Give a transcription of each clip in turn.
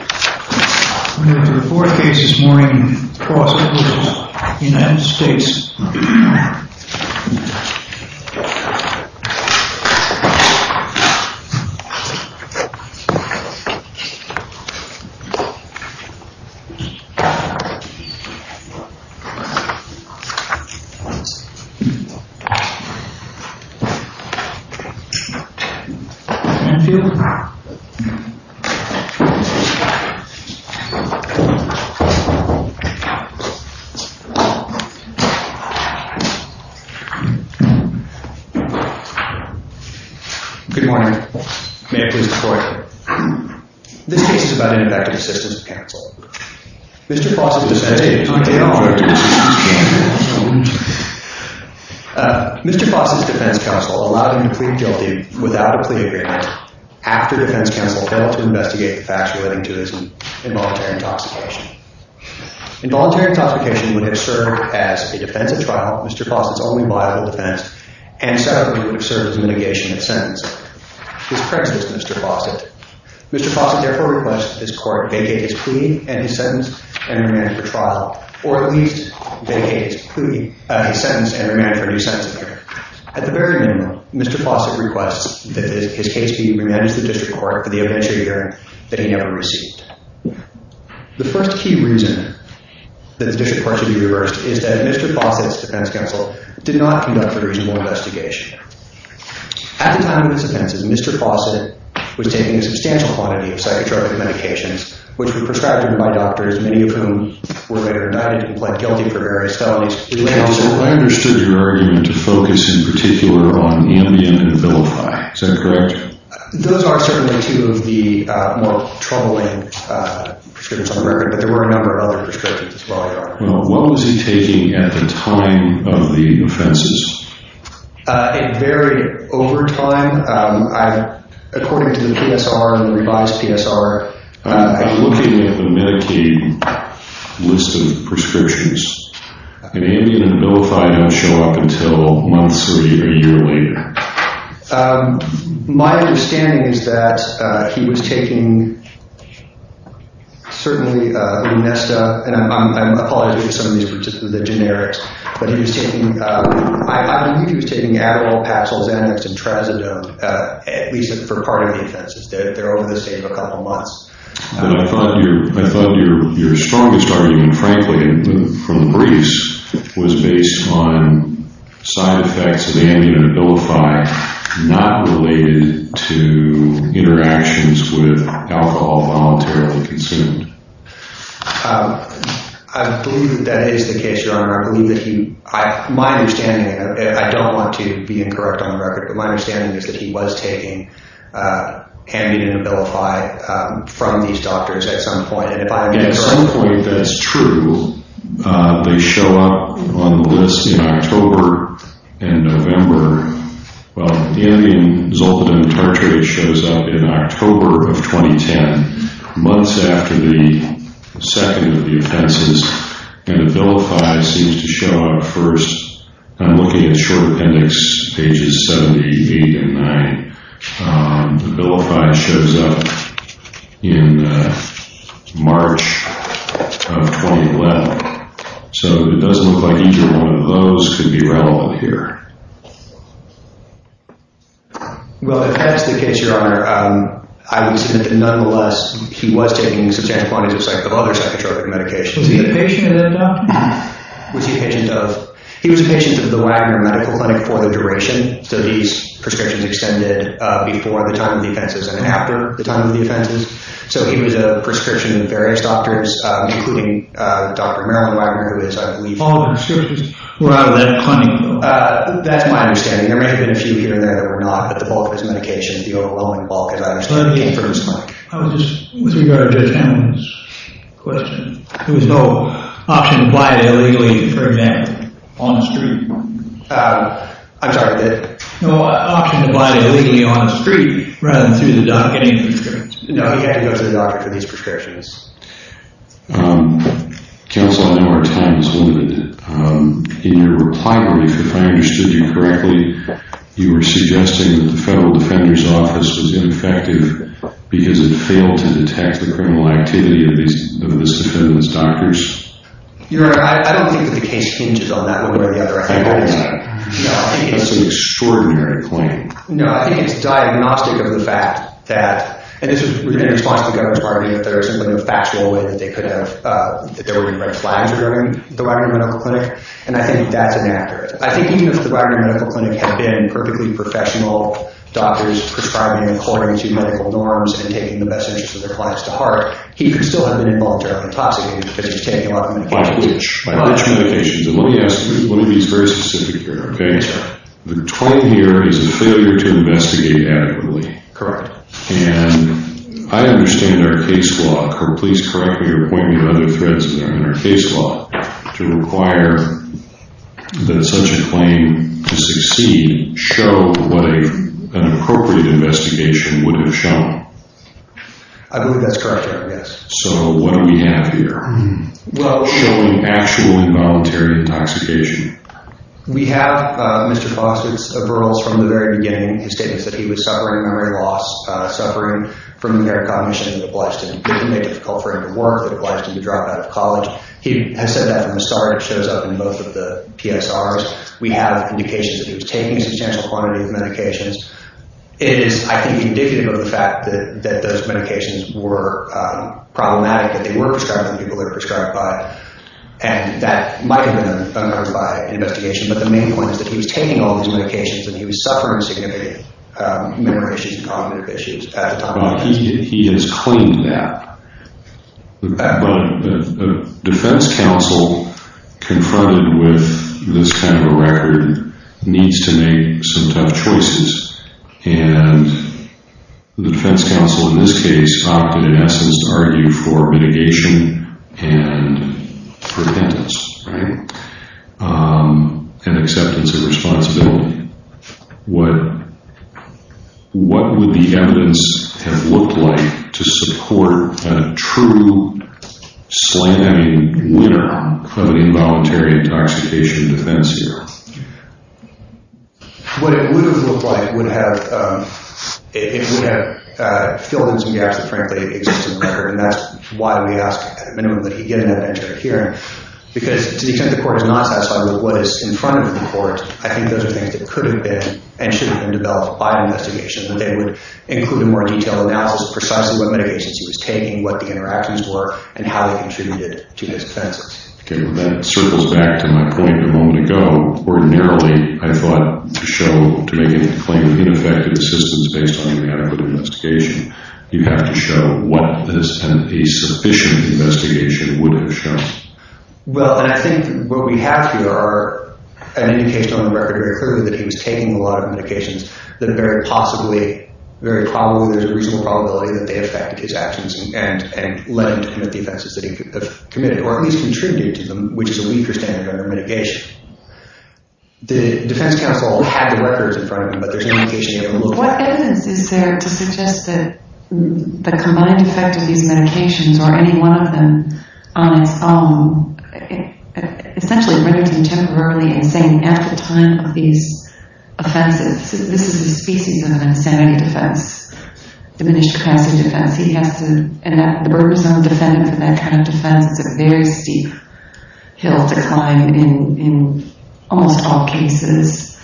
I'm here for the fourth case this morning, Faucett v. United States. I'm here for the fifth case this morning, Faucett v. United States. Good morning. May I please have the floor? This case is about ineffective assistance of counsel. Mr. Faucett's defense counsel allowed him to plead guilty without a plea agreement after defense counsel failed to investigate the facts relating to his involuntary intoxication. Involuntary intoxication would have served as a defensive trial, Mr. Faucett's only viable defense, and certainly would have served as a mitigation of sentence. His prejudice, Mr. Faucett. Mr. Faucett therefore requests that this court vacate his plea and his sentence and remand it for trial, or at least vacate his plea, his sentence, and remand it for a new sentencing period. At the very minimum, Mr. Faucett requests that his case be remanded to the district court for the eventual year that he never received. The first key reason that the district court should be reversed is that Mr. Faucett's defense counsel did not conduct a reasonable investigation. At the time of his offenses, Mr. Faucett was taking a substantial quantity of psychotropic medications, which were prescribed to him by doctors, many of whom were able to plead guilty for various felonies. Counsel, I understood your argument to focus in particular on Ambien and Vilify. Is that correct? Those are certainly two of the more troubling prescriptions on the record, but there were a number of other prescriptions as well. Well, what was he taking at the time of the offenses? It varied over time. According to the PSR and the revised PSR. I'm looking at the Medicaid list of prescriptions, and Ambien and Vilify don't show up until months or a year later. My understanding is that he was taking, certainly, and I apologize if some of these were just the generics, but I believe he was taking Adderall, Paxil, Xanax, and Trazodone, at least for part of the offenses. They're over the same for a couple months. I thought your strongest argument, frankly, from the briefs, was based on side effects of Ambien and Vilify, not related to interactions with alcohol voluntarily consumed. I believe that that is the case, Your Honor. My understanding, and I don't want to be incorrect on the record, but my understanding is that he was taking Ambien and Vilify from these doctors at some point. At some point, that's true. They show up on the list in October and November. Well, Ambien, Zolpidem, and Tartrate shows up in October of 2010, months after the second of the offenses, and the Vilify seems to show up first. I'm looking at the short appendix, pages 70, 80, and 90. The Vilify shows up in March of 2011, so it doesn't look like either one of those could be relevant here. Well, that's the case, Your Honor. I would submit that nonetheless, he was taking substantial quantities of other psychotropic medications. Was he a patient of that doctor? He was a patient of the Wagner Medical Clinic for the duration. So these prescriptions extended before the time of the offenses and after the time of the offenses. So he was a prescription of various doctors, including Dr. Marilyn Wagner, who is, I believe— All the prescriptions were out of that clinic, though. That's my understanding. There may have been a few here and there that were not, but the bulk of his medication, the overwhelming bulk, as I understand it, came from his clinic. I was just—with regard to Dan's question, there was no option to buy it illegally, for example, on the street. I'm sorry. No option to buy it illegally on the street rather than through the doctor. He had to go to the doctor for these prescriptions. Counsel, now our time is limited. In your reply brief, if I understood you correctly, you were suggesting that the Federal Defender's Office was ineffective because it failed to detect the criminal activity of this defendant's doctors? Your Honor, I don't think that the case hinges on that. No, I think it's— That's an extraordinary claim. No, I think it's diagnostic of the fact that— and this was in response to the Governor's argument that there was simply no factual way that they were going to write flags regarding the Wagner Medical Clinic, and I think that's inaccurate. I think even if the Wagner Medical Clinic had been perfectly professional, doctors prescribing according to medical norms and taking the best interest of their clients to heart, he could still have been involuntarily intoxicated because he was taking a lot of medications. By which? By which medications? And let me be very specific here, okay? Yes, sir. The claim here is a failure to investigate adequately. Correct. And I understand our case law— please correct me or point me to other threads in there— in our case law to require that such a claim to succeed show what an appropriate investigation would have shown. I believe that's correct, Your Honor, yes. So what do we have here? Well— Showing actual involuntary intoxication. We have Mr. Faust's referrals from the very beginning. His statements that he was suffering memory loss, suffering from impaired cognition, that obliged him—didn't make it difficult for him to work, that obliged him to drop out of college. He has said that in the start. It shows up in both of the PSRs. We have indications that he was taking a substantial quantity of medications. It is, I think, indicative of the fact that those medications were problematic, that they were prescribed by the people they were prescribed by. And that might have been unheard of by an investigation, but the main point is that he was taking all these medications and he was suffering significant memory issues and cognitive issues at the time. He has claimed that. But a defense counsel confronted with this kind of a record needs to make some tough choices. And the defense counsel in this case opted, in essence, to argue for mitigation and repentance, right? And acceptance of responsibility. What would the evidence have looked like to support a true slamming winner of an involuntary intoxication defense here? What it would have looked like would have filled in some gaps that, frankly, exist in the record. And that's why we ask, at a minimum, that he get an evidentiary hearing. Because to the extent the court is not satisfied with what is in front of the court, I think those are things that could have been and should have been developed by an investigation, that they would include a more detailed analysis of precisely what medications he was taking, what the interactions were, and how they contributed to his offenses. Okay. Well, that circles back to my point a moment ago. Ordinarily, I thought to show, to make a claim of ineffective assistance based on inadequate investigation, you have to show what this sufficient investigation would have shown. Well, and I think what we have here are an indication on the record, very clearly, that he was taking a lot of medications that very possibly, very probably there's a reasonable probability that they affect his actions and led him to commit the offenses that he committed, or at least contributed to them, which is a weaker standard under mitigation. The defense counsel had the records in front of him, but there's no indication he ever looked at them. What evidence is there to suggest that the combined effect of these medications, or any one of them on its own, essentially read it to him temporarily and saying, after the time of these offenses, this is a species of insanity defense, diminished capacity defense. He has to enact the Burberson defendant for that kind of defense. It's a very steep hill to climb in almost all cases,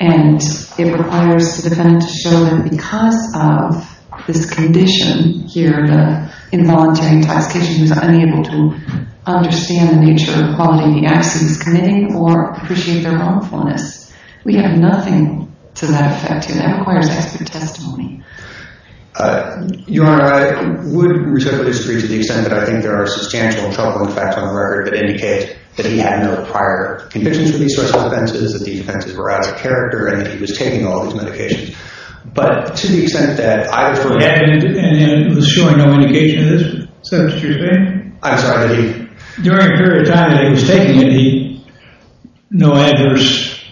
and it requires the defendant to show that because of this condition here, the involuntary intoxication, he's unable to understand the nature of the quality of the actions he's committing or appreciate their harmfulness. We have nothing to that effect here. That requires expert testimony. Your Honor, I would respectfully disagree to the extent that I think there are substantial troubling facts on the record that indicate that he had no prior convictions of these sorts of offenses, that the offenses were out of character, and that he was taking all these medications. But to the extent that I have heard... And it was showing no indication of this? Is that what you're saying? I'm sorry, that he... During a period of time that he was taking it, he no adverse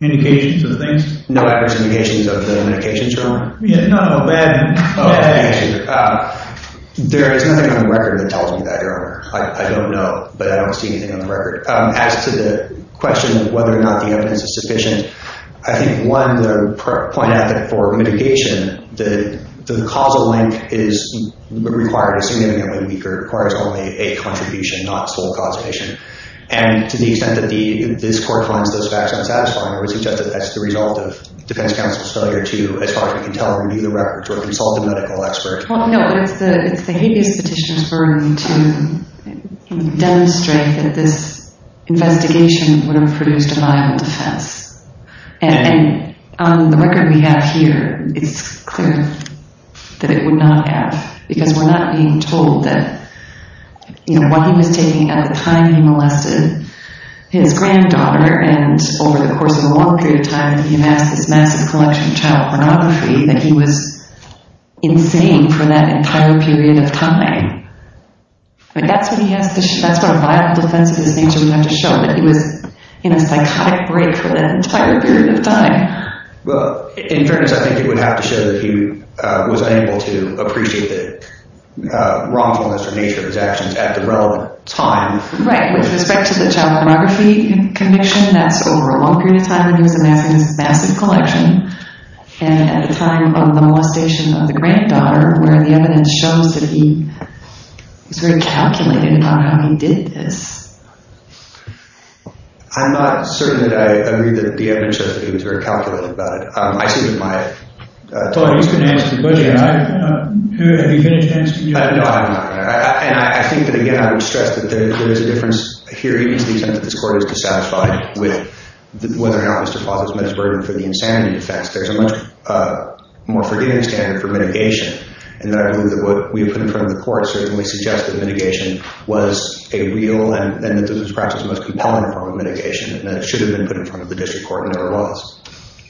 indications of the things? No adverse indications of the medications, Your Honor? Yeah, not all bad. Oh, thank you. There is nothing on the record that tells me that, Your Honor. I don't know, but I don't see anything on the record. As to the question of whether or not the evidence is sufficient, I think, one, to point out that for mitigation, the causal link is required significantly weaker. It requires only a contribution, not sole causation. And to the extent that this Court finds those facts unsatisfying, we suggest that that's the result of defense counsel's failure to, as far as we can tell, review the records or consult a medical expert. Well, no, it's the habeas petition's burden to demonstrate that this investigation would have produced a viable defense. And on the record we have here, it's clear that it would not have, because we're not being told that, you know, what he was taking at the time he molested his granddaughter, and over the course of a long period of time, he amassed this massive collection of child pornography, that he was insane for that entire period of time. That's what a viable defense of his nature would have to show, that he was in a psychotic break for that entire period of time. Well, in fairness, I think it would have to show that he was unable to appreciate the wrongfulness or nature of his actions at the relevant time. Right. With respect to the child pornography conviction, that's over a long period of time that he was amassing this massive collection. And at the time of the molestation of the granddaughter, where the evidence shows that he was very calculated about how he did this. I'm not certain that I agree that the evidence shows that he was very calculated about it. I see that my... Well, you can answer the question. Have you had a chance to... No, I have not. And I think that, again, I would stress that there is a difference here, even to the extent that this Court is dissatisfied with whether or not Mr. Fossett's met his burden for the insanity defense. There's a much more forgiving standard for mitigation. And I believe that what we've put in front of the Court certainly suggests that mitigation was a real and perhaps the most compelling form of mitigation, and that it should have been put in front of the District Court and never was.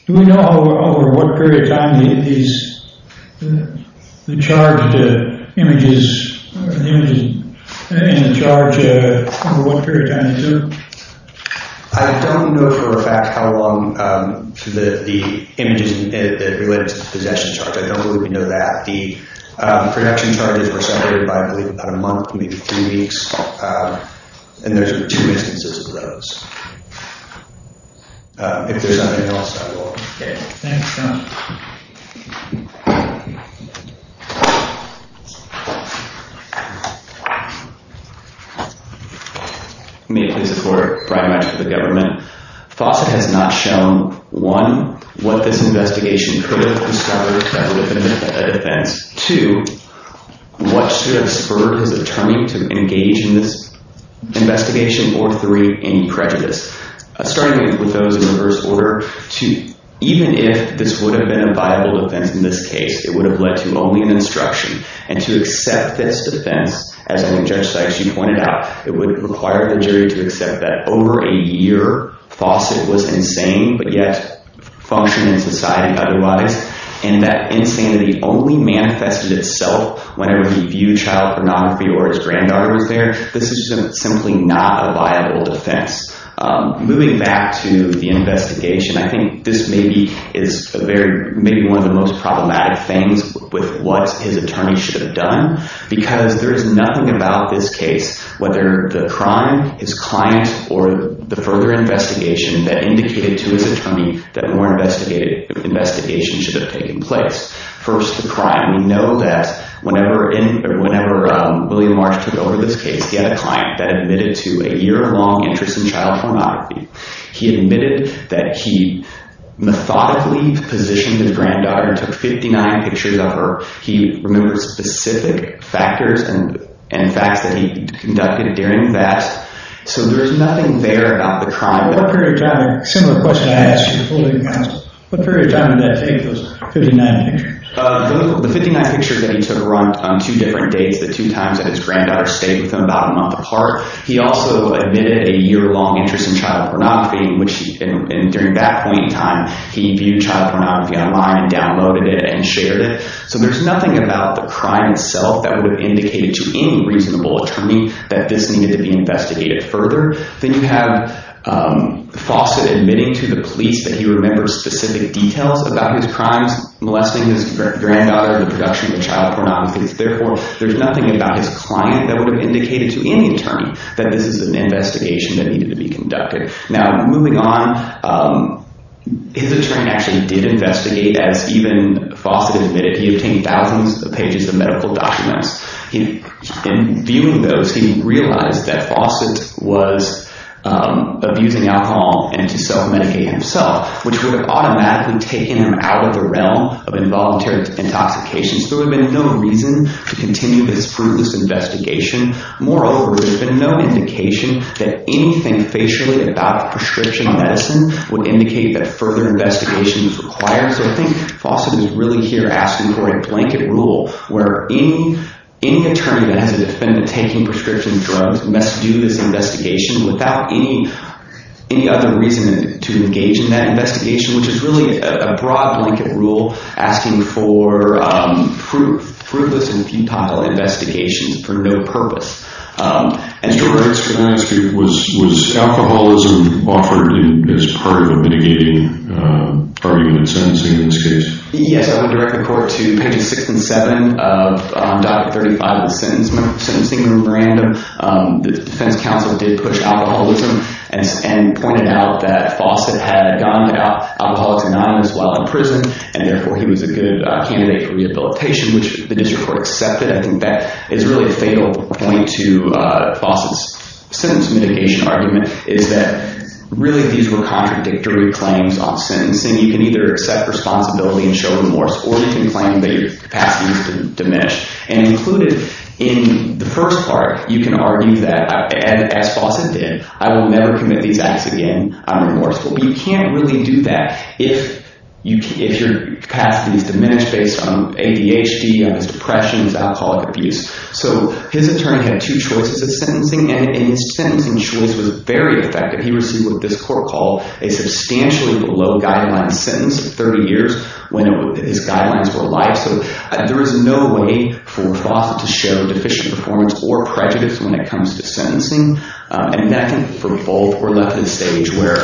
Do we know over what period of time these... the charged images... the images in the charge, over what period of time is there? I don't know for a fact how long the images related to the possession charge. I don't believe we know that. The production charges were separated by, I believe, about a month, maybe three weeks. And there's two instances of those. If there's anything else, I will... Okay. Thanks, John. May it please the Court. Brian Matz with the Government. Fossett has not shown, one, what this investigation could have discovered to have been a defense. Two, what should have spurred his attorney to engage in this investigation. Or, three, any prejudice. Starting with those in reverse order, to even if this would have been a defense, in this case, it would have led to only an instruction. And to accept this defense, as I think Judge Sykes, you pointed out, it would require the jury to accept that over a year, Fossett was insane, but yet functioned in society otherwise. And that insanity only manifested itself whenever he viewed child pornography or his granddaughters there. This is simply not a viable defense. Moving back to the investigation, I think this may be one of the most problematic things with what his attorney should have done. Because there is nothing about this case, whether the crime, his client, or the further investigation that indicated to his attorney that more investigation should have taken place. First, the crime. We know that whenever William Marsh took over this case, he had a client that admitted to a year-long interest in child pornography. He admitted that he methodically positioned his granddaughter and took 59 pictures of her. He remembered specific factors and facts that he conducted during that. So there is nothing there about the crime. What period of time, a similar question I asked you, what period of time did that take, those 59 pictures? The 59 pictures that he took were on two different dates, the two times that his granddaughter stayed with him about a month apart. He also admitted a year-long interest in child pornography, and during that point in time, he viewed child pornography online, downloaded it, and shared it. So there is nothing about the crime itself that would have indicated to any reasonable attorney that this needed to be investigated further. Then you have Fawcett admitting to the police that he remembers specific details about his crimes, molesting his granddaughter in the production of child pornography. Therefore, there is nothing about his client that would have indicated to any attorney that this is an investigation that needed to be conducted. Now, moving on, his attorney actually did investigate, as even Fawcett admitted. He obtained thousands of pages of medical documents. In viewing those, he realized that Fawcett was abusing alcohol and to self-medicate himself, which would have automatically taken him out of the realm of involuntary intoxications. There would have been no reason to continue this fruitless investigation. Moreover, there would have been no indication that anything facially about prescription medicine would indicate that further investigation is required. So I think Fawcett is really here asking for a blanket rule where any attorney that has a defendant taking prescription drugs must do this investigation without any other reason to engage in that investigation, which is really a broad blanket rule asking for fruitless and futile investigations for no purpose. Mr. Roberts, can I ask you, was alcoholism offered as part of the mitigating argument in sentencing in this case? Yes, I would direct the court to pages 6 and 7 of Doctrine 35 of the Sentencing Memorandum. The defense counsel did push alcoholism and pointed out that Fawcett had gone to alcoholics anonymous while in prison and therefore he was a good candidate for rehabilitation, which the district court accepted. I think that is really a fatal point to Fawcett's sentence mitigation argument is that really these were contradictory claims on sentencing. You can either accept responsibility and show remorse or you can claim that your capacity was diminished. And included in the first part, you can argue that, as Fawcett did, I will never commit these acts again out of remorse. Well, you can't really do that if your capacity is diminished based on ADHD, on his depression, his alcoholic abuse. So his attorney had two choices of sentencing and his sentencing choice was very effective. He received what this court called a substantially below guideline sentence of 30 years when his guidelines were alive. So there is no way for Fawcett to show deficient performance or prejudice when it comes to sentencing. And that can be for both or left in a stage where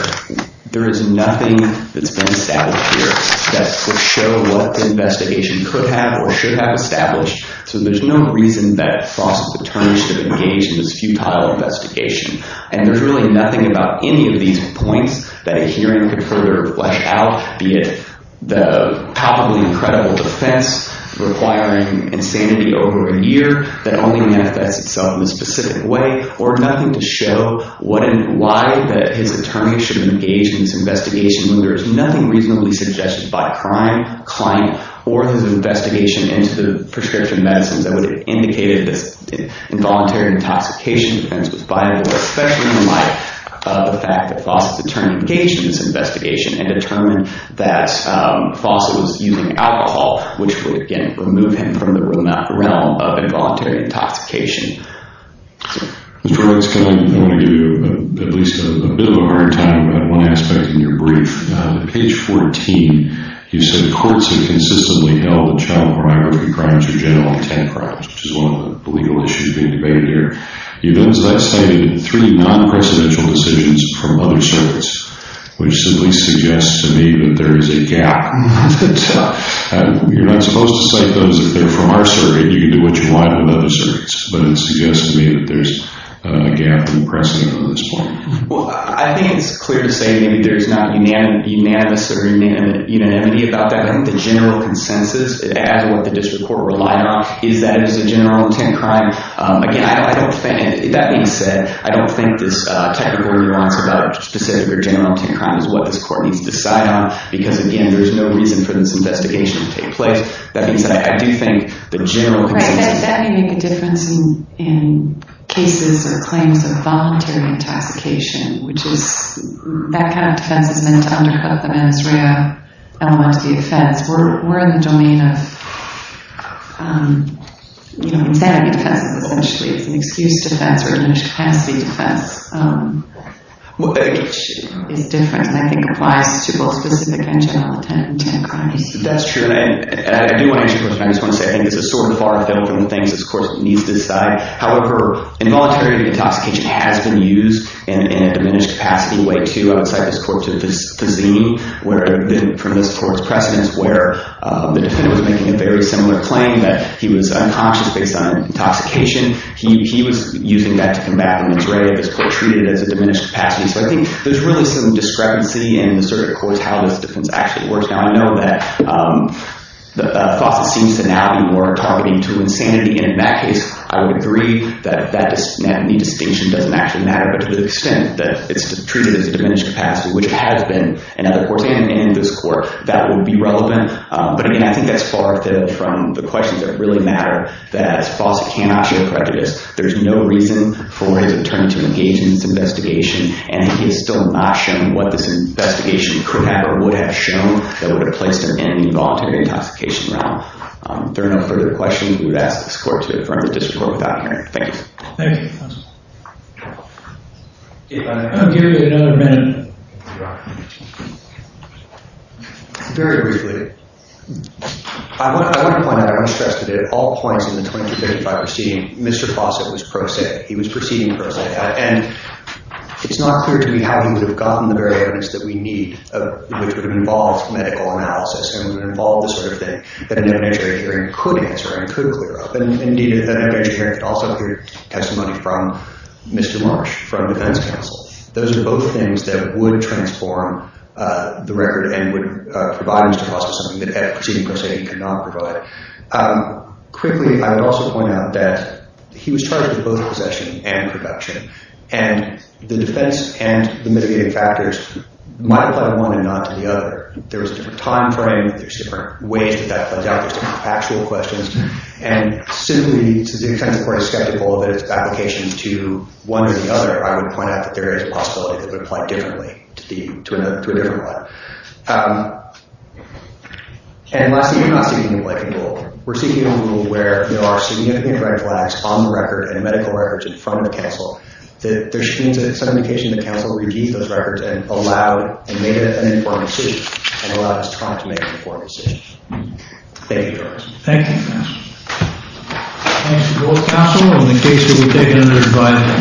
there is nothing that's been established here that would show what the investigation could have or should have established. So there's no reason that Fawcett's attorney should have engaged in this futile investigation. And there's really nothing about any of these points that a hearing could further flesh out, be it the palpably incredible defense requiring insanity over a year that only manifests itself in a specific way or nothing to show why his attorney should have engaged in this investigation when there is nothing reasonably suggested by crime, client, or his investigation into the prescription medicines that would have indicated this involuntary intoxication defense was viable, especially in the light of the fact that Fawcett's attorney engaged in this investigation and determined that Fawcett was using alcohol, which would, again, remove him from the realm of involuntary intoxication. Mr. Horvitz, I want to give you at least a bit of a hard time about one aspect in your brief. On page 14, you said courts have consistently held that child pornography crimes are generally 10 crimes, which is one of the legal issues being debated here. You've also cited three non-presidential decisions from other surveys, which simply suggests to me that there is a gap. You're not supposed to cite those if they're from our survey. You can do what you want with other surveys, but it suggests to me that there's a gap in precedent on this point. Well, I think it's clear to say maybe there's not unanimous or unanimity about that. I think the general consensus, as what the district court relied on, is that it is a general intent crime. Again, that being said, I don't think this technical nuance about specific or general intent crime is what this court needs to decide on, because, again, there's no reason for this investigation to take place. That being said, I do think the general consensus... Right, that may make a difference in cases or claims of voluntary intoxication, which is, that kind of defense is meant to undercut the menstrual element to the offense. We're in the domain of insanity defense, essentially. It's an excuse defense, or an incapacity defense, which is different, and I think applies to both specific and general intent crimes. That's true, and I do want to... I just want to say, I think this is sort of far-fetched from the things this court needs to decide. However, involuntary intoxication has been used in a diminished capacity way, too, outside this court's zine, from this court's precedence, where the defendant was making a very similar claim that he was unconscious based on intoxication. He was using that to combat an injury that this court treated as a diminished capacity. So I think there's really some discrepancy in the circuit court's how this defense actually works. Now, I know that Fawcett seems to now be more targeting to insanity, and in that case, I would agree that that need distinction doesn't actually matter, but to the extent that it's treated as a diminished capacity, which it has been in other courts and in this court, that would be relevant. But again, I think that's far-fetched from the questions that really matter, that Fawcett cannot show prejudice. There's no reason for his attorney to engage in this investigation, and he has still not shown what this investigation could have or would have shown that would have placed him in the involuntary intoxication realm. If there are no further questions, we would ask this court to confirm that this court without hearing. Thank you. Thank you, counsel. Gary, another minute. Very briefly, I want to point out, I want to stress that at all points in the 2235 proceeding, Mr. Fawcett was pro se. He was proceeding pro se. And it's not clear to me how he would have gotten the very evidence that we need, which would have involved medical analysis and would have involved the sort of thing that an evidentiary hearing could answer and could clear up. And indeed, an evidentiary hearing could also have testimony from Mr. Marsh, from defense counsel. Those are both things that would transform the record and would provide Mr. Fawcett something that a proceeding pro se cannot provide. Quickly, I would also point out that he was charged with both possession and production. And the defense and the mitigating factors might apply to one and not to the other. There was a different time frame. There's different ways that that played out. There's different factual questions. And simply, since the defense court is skeptical that it's an application to one or the other, I would point out that there is a possibility that it would apply differently to a different one. And lastly, we're not seeking a new life in rule. We're seeking a new rule where there are significant red flags on the record and medical records in front of the counsel. There seems to be some indication that the counsel redeemed those records and allowed, and made it an informed decision, and allowed his trial to make an informed decision. Thank you, Your Honor. Thank you, Your Honor. Thanks to both counsel. And the case will be taken under advisory.